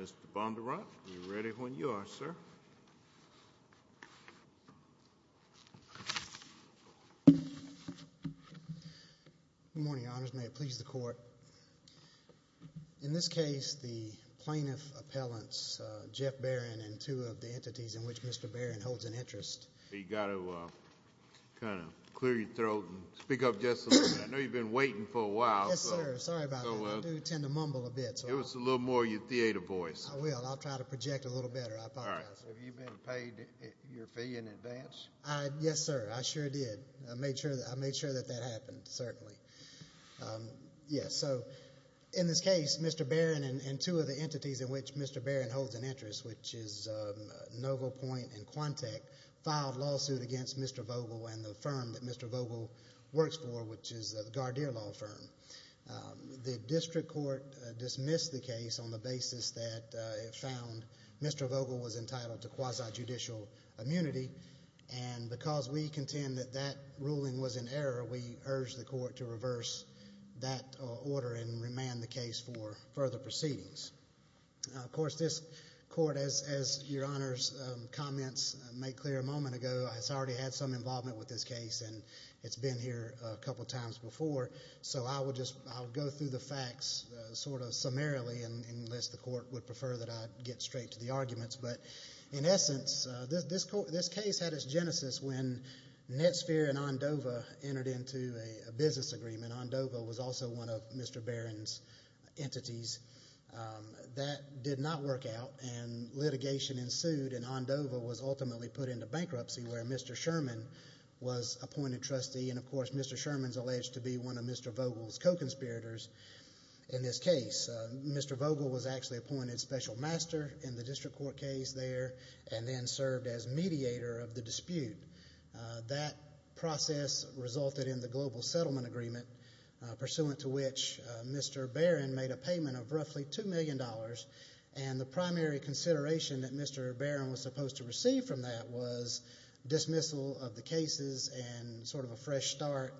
Mr. Bondurant, are you ready when you are, sir? Good morning, Your Honors. May it please the Court. In this case, the plaintiff appellants, Jeff Baron and two of the entities in which Mr. Baron holds an interest You've got to clear your throat and speak up just a little bit. I know you've been waiting for a while. Yes, sir. Sorry about that. I do tend to mumble a bit. Give us a little more of your theater voice. I will. I'll try to project a little better. I apologize. Have you been paid your fee in advance? Yes, sir. I sure did. I made sure that that happened, certainly. Yes, so in this case, Mr. Baron and two of the entities in which Mr. Baron holds an interest, which is Novo Point and Quantec, filed a lawsuit against Mr. Vogel and the firm that Mr. Vogel works for, which is the Gardeer Law Firm. The district court dismissed the case on the basis that it found Mr. Vogel was entitled to quasi-judicial immunity, and because we contend that that ruling was in error, we urge the court to reverse that order and remand the case for further proceedings. Of course, this court, as Your Honor's comments made clear a moment ago, has already had some involvement with this case, and it's been here a couple times before, so I'll go through the facts sort of summarily, unless the court would prefer that I get straight to the arguments. But in essence, this case had its genesis when Netsphere and Ondova entered into a business agreement. Ondova was also one of Mr. Baron's entities. That did not work out, and litigation ensued, and Ondova was ultimately put into bankruptcy, where Mr. Sherman was appointed trustee, and, of course, Mr. Sherman is alleged to be one of Mr. Vogel's co-conspirators in this case. Mr. Vogel was actually appointed special master in the district court case there and then served as mediator of the dispute. That process resulted in the global settlement agreement, pursuant to which Mr. Baron made a payment of roughly $2 million, and the primary consideration that Mr. Baron was supposed to receive from that was dismissal of the cases and sort of a fresh start,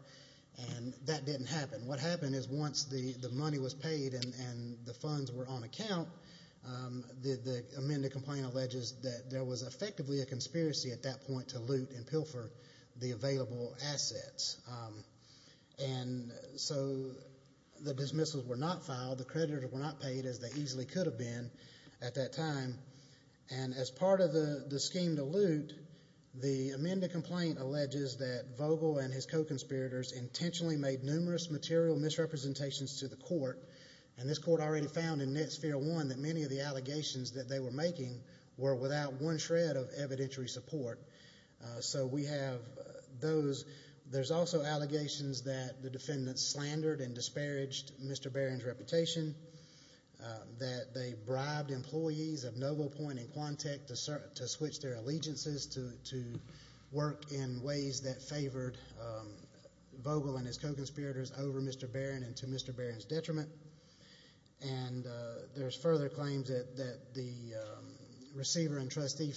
and that didn't happen. What happened is once the money was paid and the funds were on account, the amended complaint alleges that there was effectively a conspiracy at that point to loot and pilfer the available assets. And so the dismissals were not filed. The creditors were not paid, as they easily could have been at that time, and as part of the scheme to loot, the amended complaint alleges that Vogel and his co-conspirators intentionally made numerous material misrepresentations to the court, and this court already found in net sphere one that many of the allegations that they were making were without one shred of evidentiary support. So we have those. There's also allegations that the defendants slandered and disparaged Mr. Baron's reputation, that they bribed employees of NovoPoint and Quantech to switch their allegiances to work in ways that favored Vogel and his co-conspirators over Mr. Baron and to Mr. Baron's detriment, and there's further claims that the receiver and trustee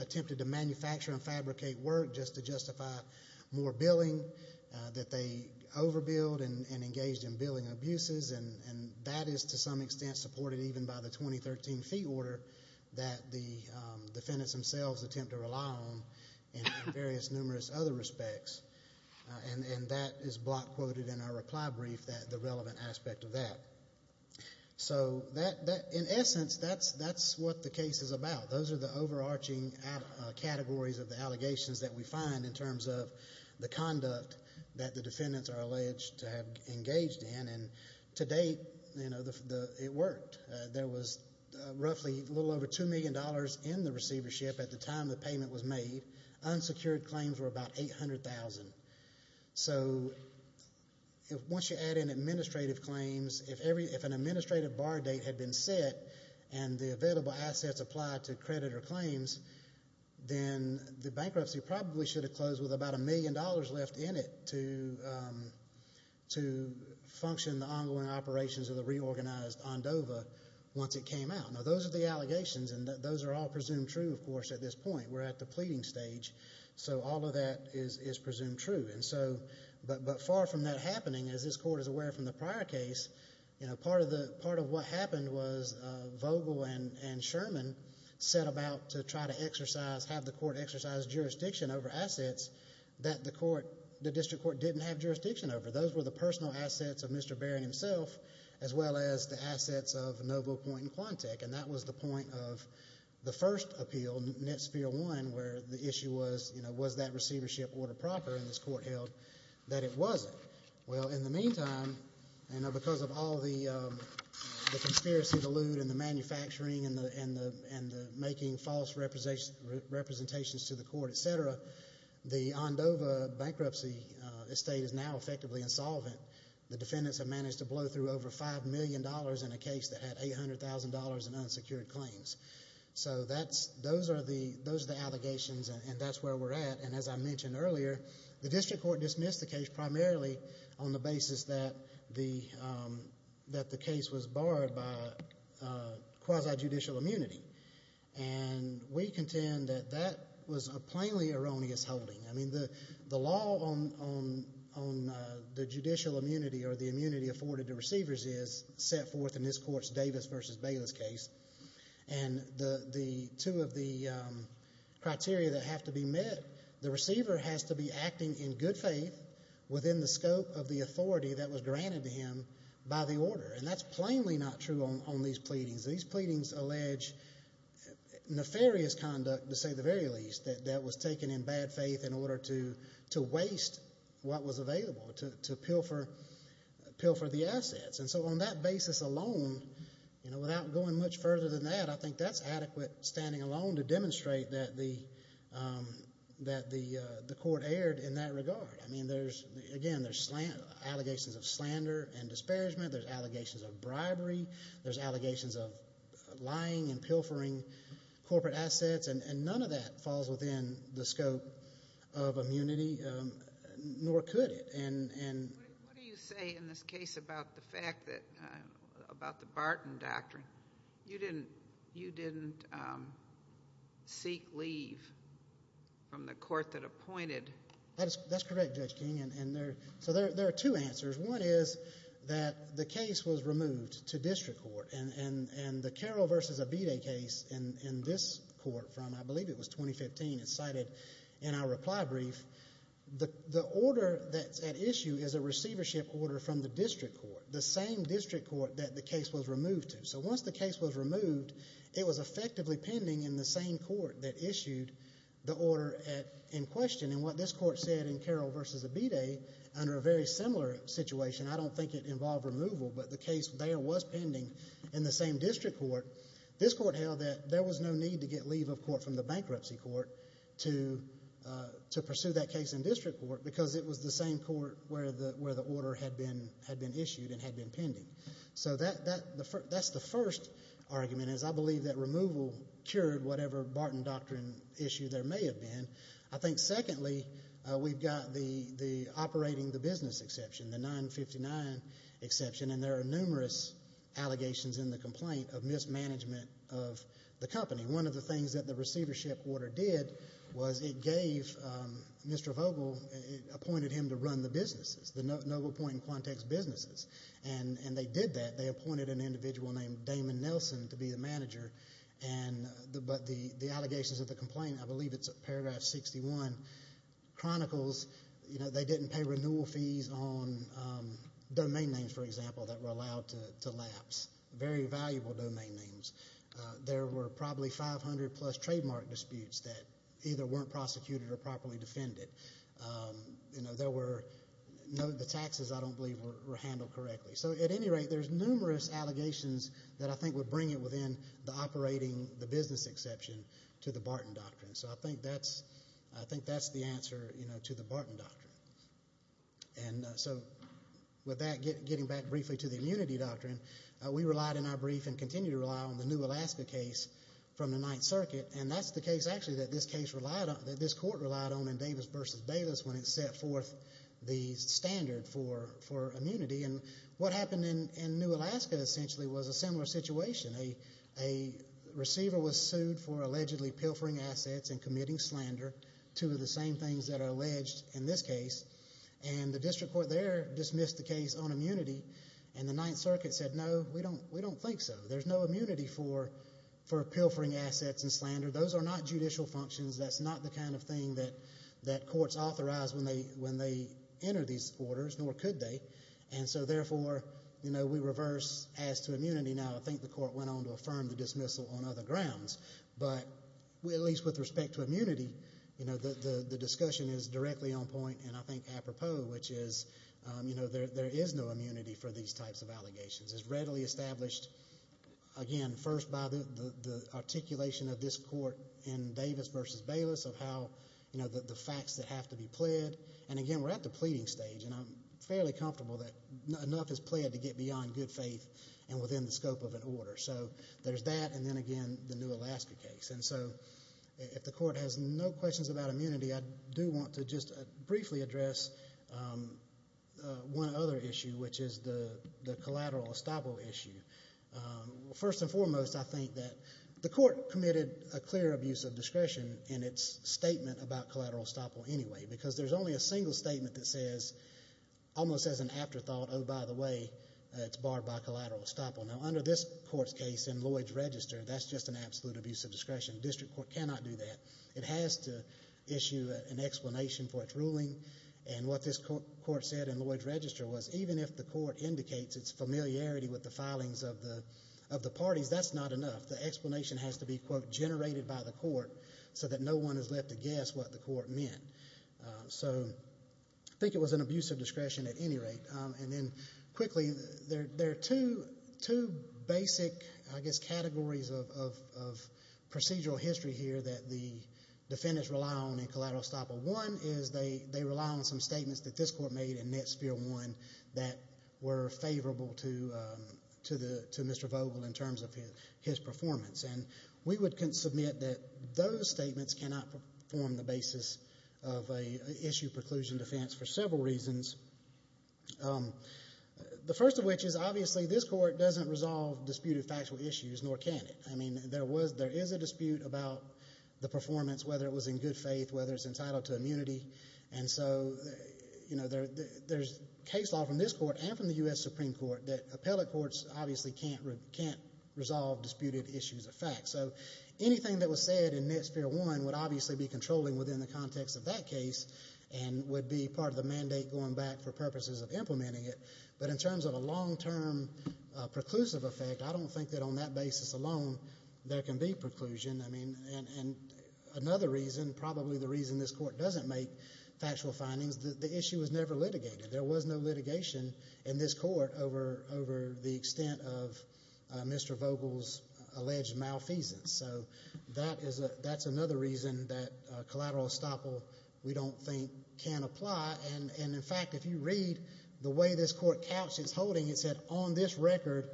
attempted to manufacture and fabricate work just to justify more billing, that they overbilled and engaged in billing abuses, and that is to some extent supported even by the 2013 fee order that the defendants themselves attempt to rely on in various numerous other respects, and that is block quoted in our reply brief, the relevant aspect of that. So in essence, that's what the case is about. Those are the overarching categories of the allegations that we find in terms of the conduct that the defendants are alleged to have engaged in, and to date, you know, it worked. There was roughly a little over $2 million in the receivership at the time the payment was made. Unsecured claims were about $800,000. So once you add in administrative claims, if an administrative bar date had been set and the available assets applied to creditor claims, then the bankruptcy probably should have closed with about a million dollars left in it to function the ongoing operations of the reorganized ONDOVA once it came out. Now, those are the allegations, and those are all presumed true, of course, at this point. We're at the pleading stage, so all of that is presumed true. But far from that happening, as this court is aware from the prior case, part of what happened was Vogel and Sherman set about to try to exercise, have the court exercise jurisdiction over assets that the district court didn't have jurisdiction over. Those were the personal assets of Mr. Barron himself as well as the assets of Novo Point and Quantec, and that was the point of the first appeal, Net Sphere 1, where the issue was, you know, was that receivership order proper in this court held? That it wasn't. Well, in the meantime, you know, because of all the conspiracy, the lewd, and the manufacturing, and the making false representations to the court, et cetera, the ONDOVA bankruptcy estate is now effectively insolvent. The defendants have managed to blow through over $5 million in a case that had $800,000 in unsecured claims. So those are the allegations, and that's where we're at. And as I mentioned earlier, the district court dismissed the case primarily on the basis that the case was barred by quasi-judicial immunity. And we contend that that was a plainly erroneous holding. I mean, the law on the judicial immunity or the immunity afforded to receivers is set forth in this court's Davis v. Bayless case, and two of the criteria that have to be met, the receiver has to be acting in good faith within the scope of the authority that was granted to him by the order, and that's plainly not true on these pleadings. These pleadings allege nefarious conduct, to say the very least, that was taken in bad faith in order to waste what was available, to pilfer the assets. And so on that basis alone, without going much further than that, I think that's adequate standing alone to demonstrate that the court erred in that regard. I mean, again, there's allegations of slander and disparagement. There's allegations of bribery. There's allegations of lying and pilfering corporate assets, and none of that falls within the scope of immunity, nor could it. What do you say in this case about the fact that, about the Barton doctrine? You didn't seek leave from the court that appointed. That's correct, Judge King. So there are two answers. One is that the case was removed to district court, and the Carroll v. Abide case in this court from, I believe it was 2015, it's cited in our reply brief, the order that's at issue is a receivership order from the district court, the same district court that the case was removed to. So once the case was removed, it was effectively pending in the same court that issued the order in question. And what this court said in Carroll v. Abide, under a very similar situation, I don't think it involved removal, but the case there was pending in the same district court, this court held that there was no need to get leave of court from the bankruptcy court to pursue that case in district court because it was the same court where the order had been issued and had been pending. So that's the first argument, is I believe that removal cured whatever Barton doctrine issue there may have been. I think secondly, we've got the operating the business exception, the 959 exception, and there are numerous allegations in the complaint of mismanagement of the company. One of the things that the receivership order did was it gave Mr. Vogel, it appointed him to run the businesses, the Noble Point and Quantex businesses, and they did that. But the allegations of the complaint, I believe it's paragraph 61, chronicles they didn't pay renewal fees on domain names, for example, that were allowed to lapse, very valuable domain names. There were probably 500-plus trademark disputes that either weren't prosecuted or properly defended. The taxes, I don't believe, were handled correctly. So at any rate, there's numerous allegations that I think would bring it within the operating the business exception to the Barton doctrine. So I think that's the answer to the Barton doctrine. And so with that, getting back briefly to the immunity doctrine, we relied in our brief and continue to rely on the New Alaska case from the Ninth Circuit, and that's the case actually that this court relied on in Davis v. Bayless when it set forth the standard for immunity. And what happened in New Alaska essentially was a similar situation. A receiver was sued for allegedly pilfering assets and committing slander, two of the same things that are alleged in this case, and the district court there dismissed the case on immunity, and the Ninth Circuit said, No, we don't think so. There's no immunity for pilfering assets and slander. Those are not judicial functions. That's not the kind of thing that courts authorize when they enter these orders, nor could they. And so, therefore, we reverse as to immunity now. I think the court went on to affirm the dismissal on other grounds. But at least with respect to immunity, the discussion is directly on point and I think apropos, which is there is no immunity for these types of allegations. It's readily established, again, first by the articulation of this court in Davis v. Bayless of how the facts that have to be pled. And, again, we're at the pleading stage, and I'm fairly comfortable that enough is pled to get beyond good faith and within the scope of an order. So there's that, and then again the New Alaska case. And so if the court has no questions about immunity, I do want to just briefly address one other issue, which is the collateral estoppel issue. First and foremost, I think that the court committed a clear abuse of discretion in its statement about collateral estoppel anyway because there's only a single statement that says, almost as an afterthought, oh, by the way, it's barred by collateral estoppel. Now, under this court's case in Lloyds Register, that's just an absolute abuse of discretion. The district court cannot do that. It has to issue an explanation for its ruling. And what this court said in Lloyds Register was even if the court indicates its familiarity with the filings of the parties, that's not enough. The explanation has to be, quote, generated by the court so that no one is left to guess what the court meant. So I think it was an abuse of discretion at any rate. And then quickly, there are two basic, I guess, categories of procedural history here that the defendants rely on in collateral estoppel. One is they rely on some statements that this court made in Net Sphere 1 that were favorable to Mr. Vogel in terms of his performance. And we would submit that those statements cannot form the basis of an issue of preclusion defense for several reasons, the first of which is, obviously, this court doesn't resolve disputed factual issues, nor can it. I mean, there is a dispute about the performance, whether it was in good faith, whether it's entitled to immunity. And so, you know, there's case law from this court and from the U.S. Supreme Court that appellate courts obviously can't resolve disputed issues of fact. So anything that was said in Net Sphere 1 would obviously be controlling within the context of that case and would be part of the mandate going back for purposes of implementing it. But in terms of a long-term preclusive effect, I don't think that on that basis alone there can be preclusion. And another reason, probably the reason this court doesn't make factual findings, the issue was never litigated. There was no litigation in this court over the extent of Mr. Vogel's alleged malfeasance. So that's another reason that collateral estoppel we don't think can apply. And, in fact, if you read the way this court couched its holding, it said on this record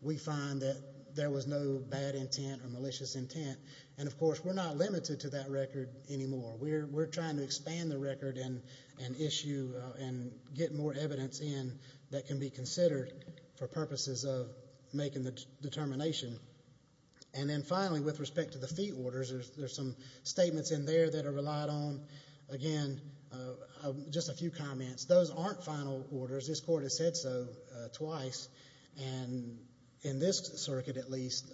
we find that there was no bad intent or malicious intent. And, of course, we're not limited to that record anymore. We're trying to expand the record and issue and get more evidence in that can be considered for purposes of making the determination. And then, finally, with respect to the fee orders, there's some statements in there that are relied on. Again, just a few comments. Those aren't final orders. This court has said so twice. And in this circuit, at least,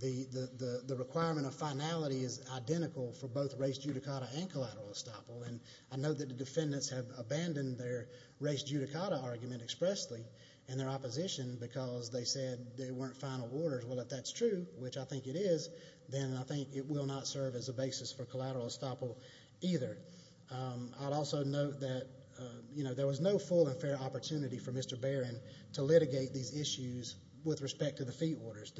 the requirement of finality is identical for both race judicata and collateral estoppel. And I know that the defendants have abandoned their race judicata argument expressly in their opposition because they said they weren't final orders. Well, if that's true, which I think it is, then I think it will not serve as a basis for collateral estoppel either. I'd also note that there was no full and fair opportunity for Mr. Barron to litigate these issues with respect to the fee orders.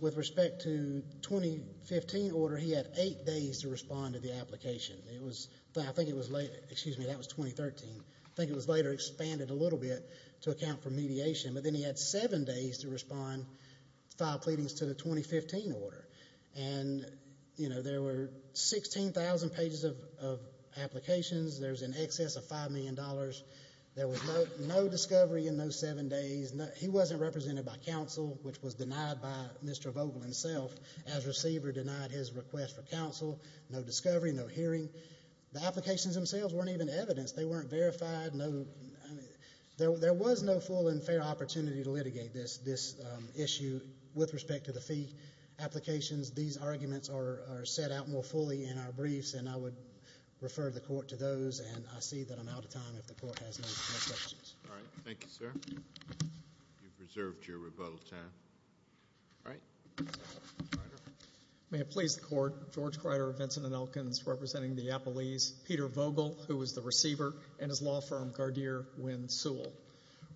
With respect to the 2015 order, he had eight days to respond to the application. I think it was later. Excuse me, that was 2013. I think it was later expanded a little bit to account for mediation. But then he had seven days to respond, file pleadings, to the 2015 order. And, you know, there were 16,000 pages of applications. There's an excess of $5 million. There was no discovery in those seven days. He wasn't represented by counsel, which was denied by Mr. Vogel himself as receiver, denied his request for counsel. No discovery, no hearing. The applications themselves weren't even evidenced. They weren't verified. There was no full and fair opportunity to litigate this issue with respect to the fee applications. These arguments are set out more fully in our briefs, and I would refer the court to those, and I see that I'm out of time if the court has no questions. All right. Thank you, sir. You've reserved your rebuttal time. All right. May it please the Court. Thank you, Your Honor. George Kreider, Vincent and Elkins, representing the appellees, Peter Vogel, who was the receiver, and his law firm, Gardeer Wynn Sewell.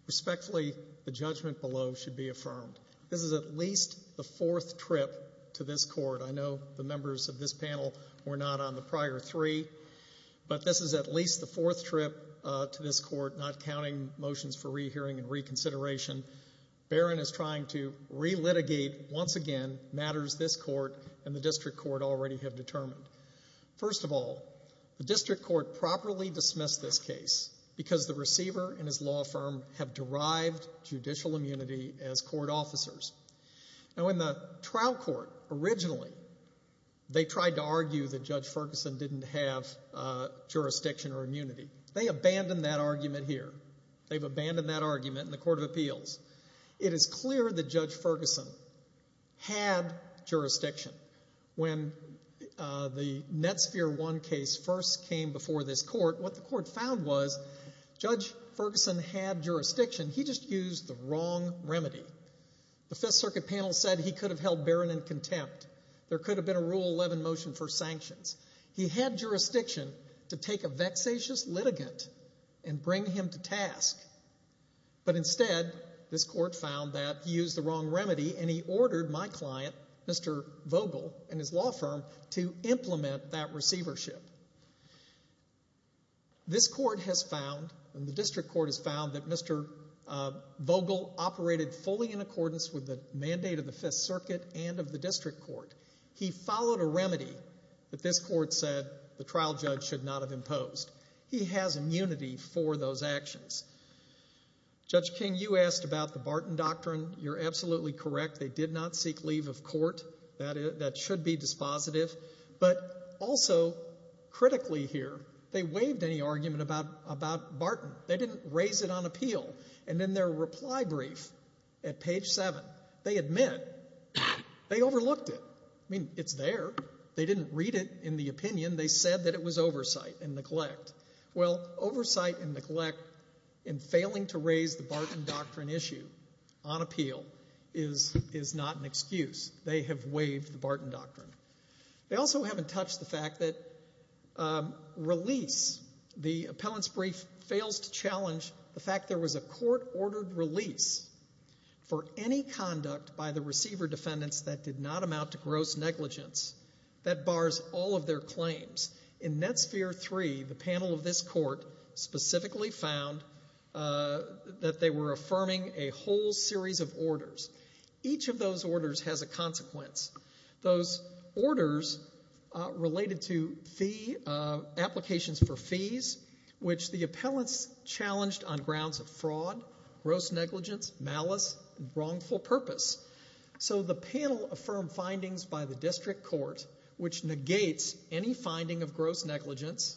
Respectfully, the judgment below should be affirmed. This is at least the fourth trip to this court. I know the members of this panel were not on the prior three, but this is at least the fourth trip to this court, not counting motions for rehearing and reconsideration. Barron is trying to re-litigate, once again, matters this court and the district court already have determined. First of all, the district court properly dismissed this case because the receiver and his law firm have derived judicial immunity as court officers. Now, in the trial court, originally, they tried to argue that Judge Ferguson didn't have jurisdiction or immunity. They abandoned that argument here. They've abandoned that argument in the Court of Appeals. It is clear that Judge Ferguson had jurisdiction. When the Netsphere 1 case first came before this court, what the court found was Judge Ferguson had jurisdiction. He just used the wrong remedy. The Fifth Circuit panel said he could have held Barron in contempt. There could have been a Rule 11 motion for sanctions. He had jurisdiction to take a vexatious litigant and bring him to task, but instead, this court found that he used the wrong remedy, and he ordered my client, Mr. Vogel and his law firm, to implement that receivership. This court has found, and the district court has found, that Mr. Vogel operated fully in accordance with the mandate of the Fifth Circuit and of the district court. He followed a remedy that this court said the trial judge should not have imposed. He has immunity for those actions. Judge King, you asked about the Barton Doctrine. You're absolutely correct. They did not seek leave of court. That should be dispositive. But also, critically here, they waived any argument about Barton. They didn't raise it on appeal. And in their reply brief at page 7, they admit they overlooked it. I mean, it's there. They didn't read it in the opinion. They said that it was oversight and neglect. Well, oversight and neglect in failing to raise the Barton Doctrine issue on appeal is not an excuse. They have waived the Barton Doctrine. They also haven't touched the fact that release, the appellant's brief, fails to challenge the fact there was a court-ordered release for any conduct by the receiver defendants that did not amount to gross negligence that bars all of their claims. In NetSphere 3, the panel of this court specifically found that they were affirming a whole series of orders. Each of those orders has a consequence. Those orders related to fee applications for fees, which the appellants challenged on grounds of fraud, gross negligence, malice, and wrongful purpose. So the panel affirmed findings by the district court, which negates any finding of gross negligence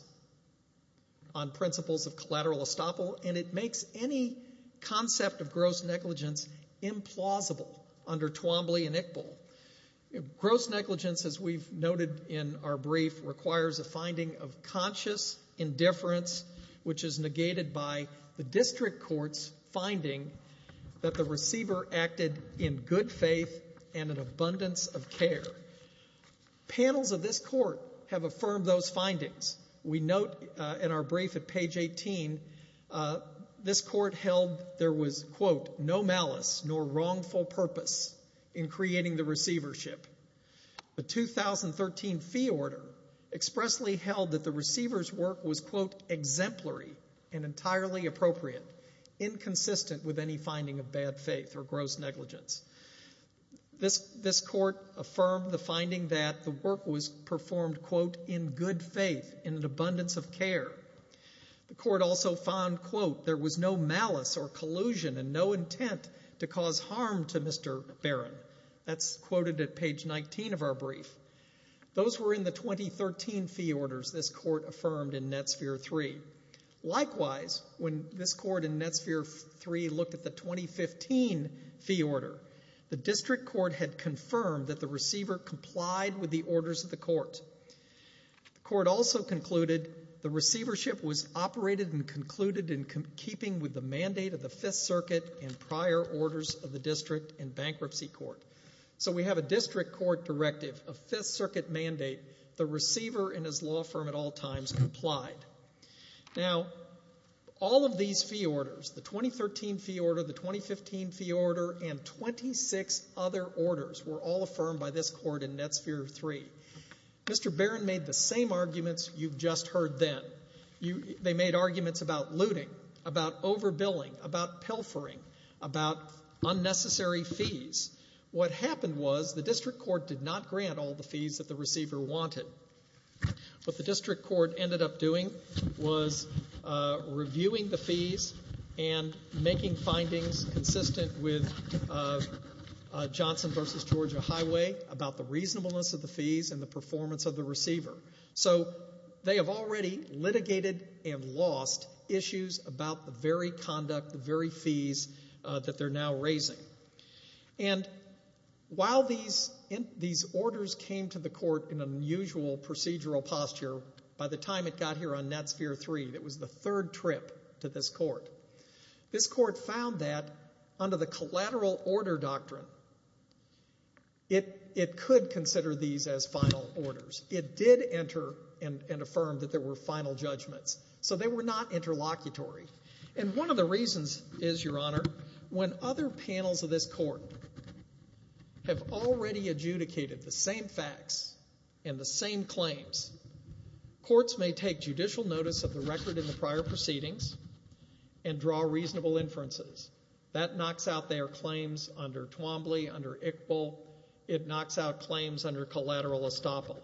on principles of collateral estoppel, and it makes any concept of gross negligence implausible under Twombly and Iqbal. Gross negligence, as we've noted in our brief, requires a finding of conscious indifference, which is negated by the district court's finding that the receiver acted in good faith and an abundance of care. Panels of this court have affirmed those findings. We note in our brief at page 18, this court held there was, quote, no malice nor wrongful purpose in creating the receivership. The 2013 fee order expressly held that the receiver's work was, quote, exemplary and entirely appropriate, inconsistent with any finding of bad faith or gross negligence. This court affirmed the finding that the work was performed, quote, in good faith, in an abundance of care. The court also found, quote, there was no malice or collusion and no intent to cause harm to Mr. Barron. That's quoted at page 19 of our brief. Those were in the 2013 fee orders this court affirmed in Netsphere 3. Likewise, when this court in Netsphere 3 looked at the 2015 fee order, the district court had confirmed that the receiver complied with the orders of the court. The court also concluded the receivership was operated and concluded in keeping with the mandate of the Fifth Circuit and prior orders of the district and bankruptcy court. So we have a district court directive, a Fifth Circuit mandate, the receiver and his law firm at all times complied. Now, all of these fee orders, the 2013 fee order, the 2015 fee order, and 26 other orders were all affirmed by this court in Netsphere 3. Mr. Barron made the same arguments you've just heard then. They made arguments about looting, about overbilling, about pilfering, about unnecessary fees. What happened was the district court did not grant all the fees that the receiver wanted. What the district court ended up doing was reviewing the fees and making findings consistent with Johnson versus Georgia Highway about the reasonableness of the fees and the performance of the receiver. So they have already litigated and lost issues about the very conduct, the very fees that they're now raising. And while these orders came to the court in an unusual procedural posture, by the time it got here on Netsphere 3, it was the third trip to this court, this court found that under the collateral order doctrine, it could consider these as final orders. It did enter and affirm that there were final judgments. So they were not interlocutory. And one of the reasons is, Your Honor, when other panels of this court have already adjudicated the same facts and the same claims, courts may take judicial notice of the record in the prior proceedings and draw reasonable inferences. That knocks out their claims under Twombly, under Iqbal. It knocks out claims under collateral estoppel.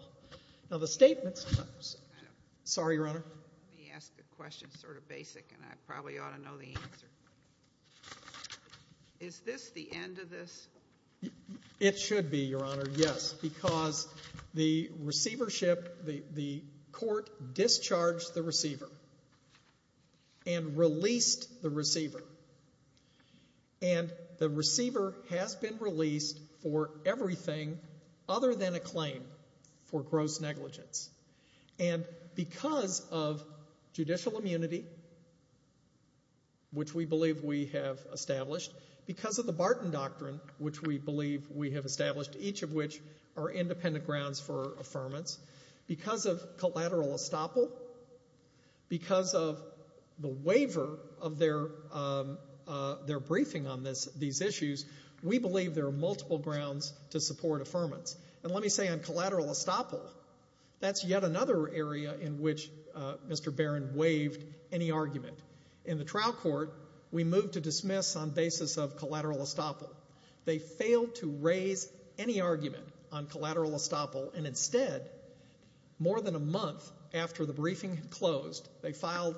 Now, the statement sometimes – sorry, Your Honor. Let me ask a question, sort of basic, and I probably ought to know the answer. Is this the end of this? It should be, Your Honor, yes, because the receivership, the court discharged the receiver and released the receiver. And the receiver has been released for everything other than a claim for gross negligence. And because of judicial immunity, which we believe we have established, because of the Barton Doctrine, which we believe we have established, each of which are independent grounds for affirmance, because of collateral estoppel, because of the waiver of their briefing on these issues, we believe there are multiple grounds to support affirmance. And let me say on collateral estoppel, that's yet another area in which Mr. Barron waived any argument. In the trial court, we moved to dismiss on basis of collateral estoppel. They failed to raise any argument on collateral estoppel, and instead, more than a month after the briefing had closed, they filed,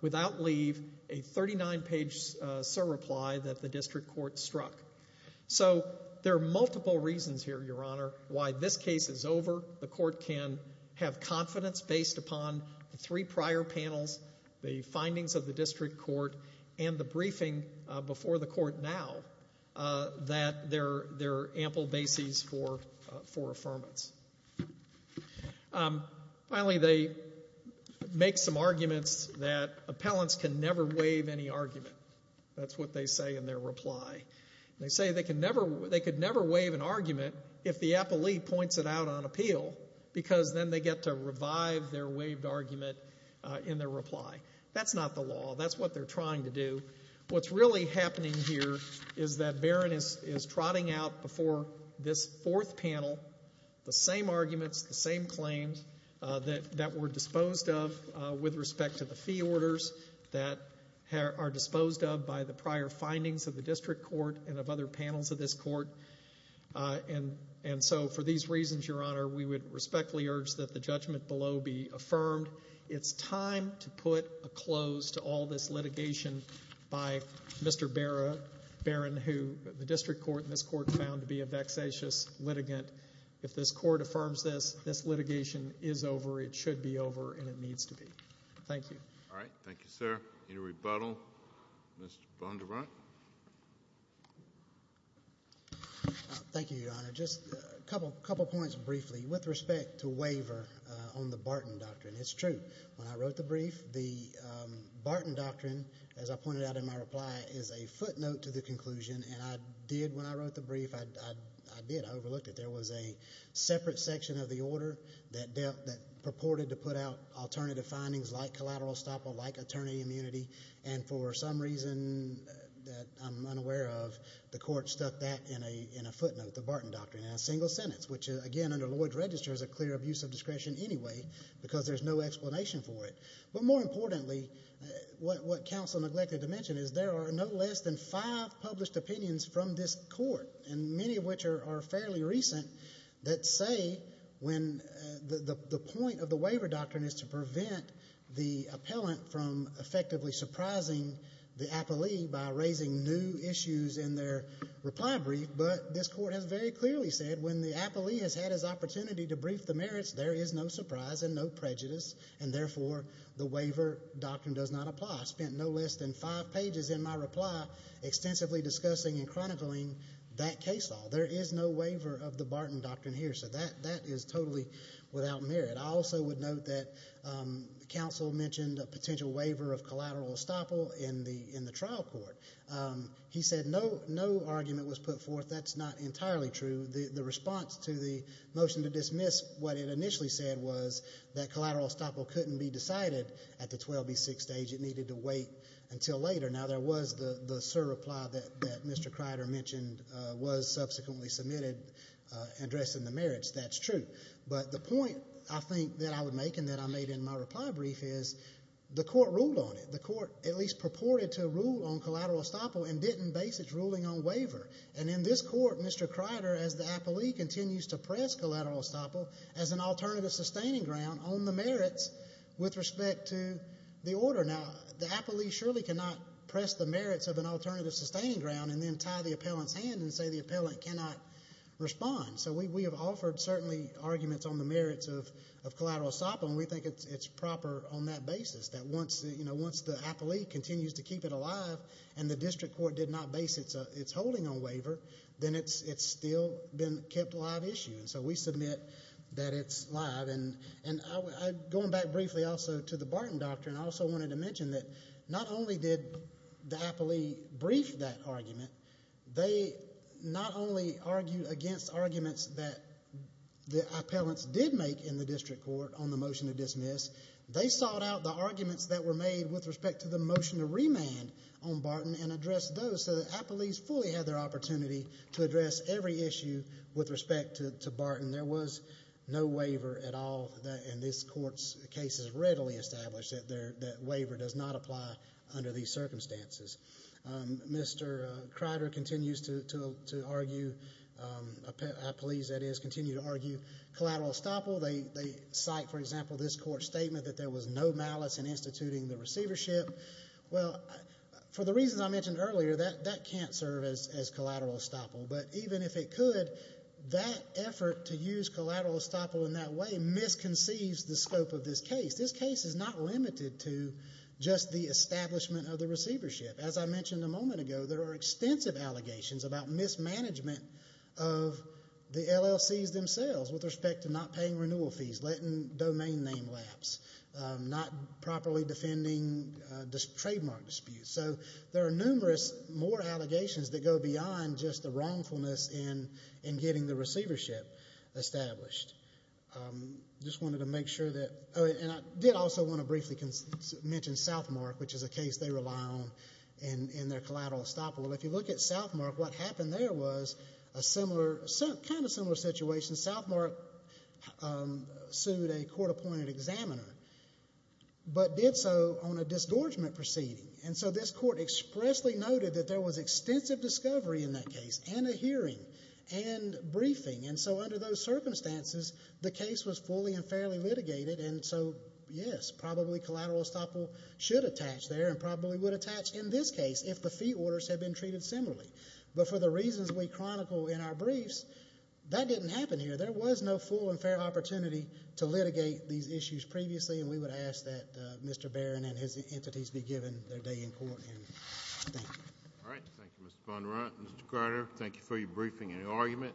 without leave, a 39-page surreply that the district court struck. So there are multiple reasons here, Your Honor, why this case is over. The court can have confidence based upon the three prior panels, the findings of the district court, and the briefing before the court now, that there are ample bases for affirmance. Finally, they make some arguments that appellants can never waive any argument. That's what they say in their reply. They say they could never waive an argument if the appellee points it out on appeal, because then they get to revive their waived argument in their reply. That's not the law. That's what they're trying to do. What's really happening here is that Barron is trotting out before this fourth panel the same arguments, the same claims that were disposed of with respect to the fee orders that are disposed of by the prior findings of the district court and of other panels of this court. And so for these reasons, Your Honor, we would respectfully urge that the judgment below be affirmed. It's time to put a close to all this litigation by Mr. Barron, who the district court and this court found to be a vexatious litigant. If this court affirms this, this litigation is over. It should be over, and it needs to be. Thank you. All right. Thank you, sir. Any rebuttal? Mr. Vonderbrandt. Thank you, Your Honor. Just a couple points briefly with respect to waiver on the Barton Doctrine. It's true. When I wrote the brief, the Barton Doctrine, as I pointed out in my reply, is a footnote to the conclusion, and I did when I wrote the brief, I did. I overlooked it. There was a separate section of the order that purported to put out alternative findings like collateral estoppel, like attorney immunity, and for some reason that I'm unaware of, the court stuck that in a footnote, the Barton Doctrine, in a single sentence, which again under Lloyd's Register is a clear abuse of discretion anyway because there's no explanation for it. But more importantly, what counsel neglected to mention is there are no less than five published opinions from this court, and many of which are fairly recent, that say when the point of the waiver doctrine is to prevent the appellant from effectively surprising the appellee by raising new issues in their reply brief, but this court has very clearly said when the appellee has had his opportunity to brief the merits, there is no surprise and no prejudice, and therefore the waiver doctrine does not apply. I spent no less than five pages in my reply extensively discussing and chronicling that case law. There is no waiver of the Barton Doctrine here, so that is totally without merit. I also would note that counsel mentioned a potential waiver of collateral estoppel in the trial court. He said no argument was put forth. That's not entirely true. The response to the motion to dismiss what it initially said was that collateral estoppel couldn't be decided at the 12B6 stage. It needed to wait until later. Now, there was the surreply that Mr. Crider mentioned was subsequently submitted addressing the merits. That's true. But the point I think that I would make and that I made in my reply brief is the court ruled on it. The court at least purported to rule on collateral estoppel and didn't base its ruling on waiver. And in this court, Mr. Crider, as the appellee, continues to press collateral estoppel as an alternative sustaining ground on the merits with respect to the order. Now, the appellee surely cannot press the merits of an alternative sustaining ground and then tie the appellant's hand and say the appellant cannot respond. So we have offered certainly arguments on the merits of collateral estoppel, and we think it's proper on that basis that once the appellee continues to keep it alive and the district court did not base its holding on waiver, then it's still been kept a live issue. So we submit that it's live. And going back briefly also to the Barton Doctrine, I also wanted to mention that not only did the appellee brief that argument, they not only argued against arguments that the appellants did make in the district court on the motion to dismiss, they sought out the arguments that were made with respect to the motion to remand on Barton and addressed those so that appellees fully had their opportunity to address every issue with respect to Barton. There was no waiver at all. And this Court's case has readily established that waiver does not apply under these circumstances. Mr. Kreider continues to argue, appellees that is, continue to argue collateral estoppel. They cite, for example, this Court's statement that there was no malice in instituting the receivership. Well, for the reasons I mentioned earlier, that can't serve as collateral estoppel. But even if it could, that effort to use collateral estoppel in that way misconceives the scope of this case. This case is not limited to just the establishment of the receivership. As I mentioned a moment ago, there are extensive allegations about mismanagement of the LLCs themselves with respect to not paying renewal fees, letting domain name lapse, not properly defending trademark disputes. So there are numerous more allegations that go beyond just the wrongfulness in getting the receivership established. I did also want to briefly mention Southmark, which is a case they rely on in their collateral estoppel. If you look at Southmark, what happened there was a kind of similar situation. Southmark sued a court-appointed examiner, but did so on a disgorgement proceeding. And so this court expressly noted that there was extensive discovery in that case and a hearing and briefing. And so under those circumstances, the case was fully and fairly litigated. And so, yes, probably collateral estoppel should attach there and probably would attach in this case if the fee orders had been treated similarly. But for the reasons we chronicle in our briefs, that didn't happen here. There was no full and fair opportunity to litigate these issues previously. And we would ask that Mr. Barron and his entities be given their day in court. And thank you. All right. Thank you, Mr. Von Runt. Mr. Carter, thank you for your briefing and your argument.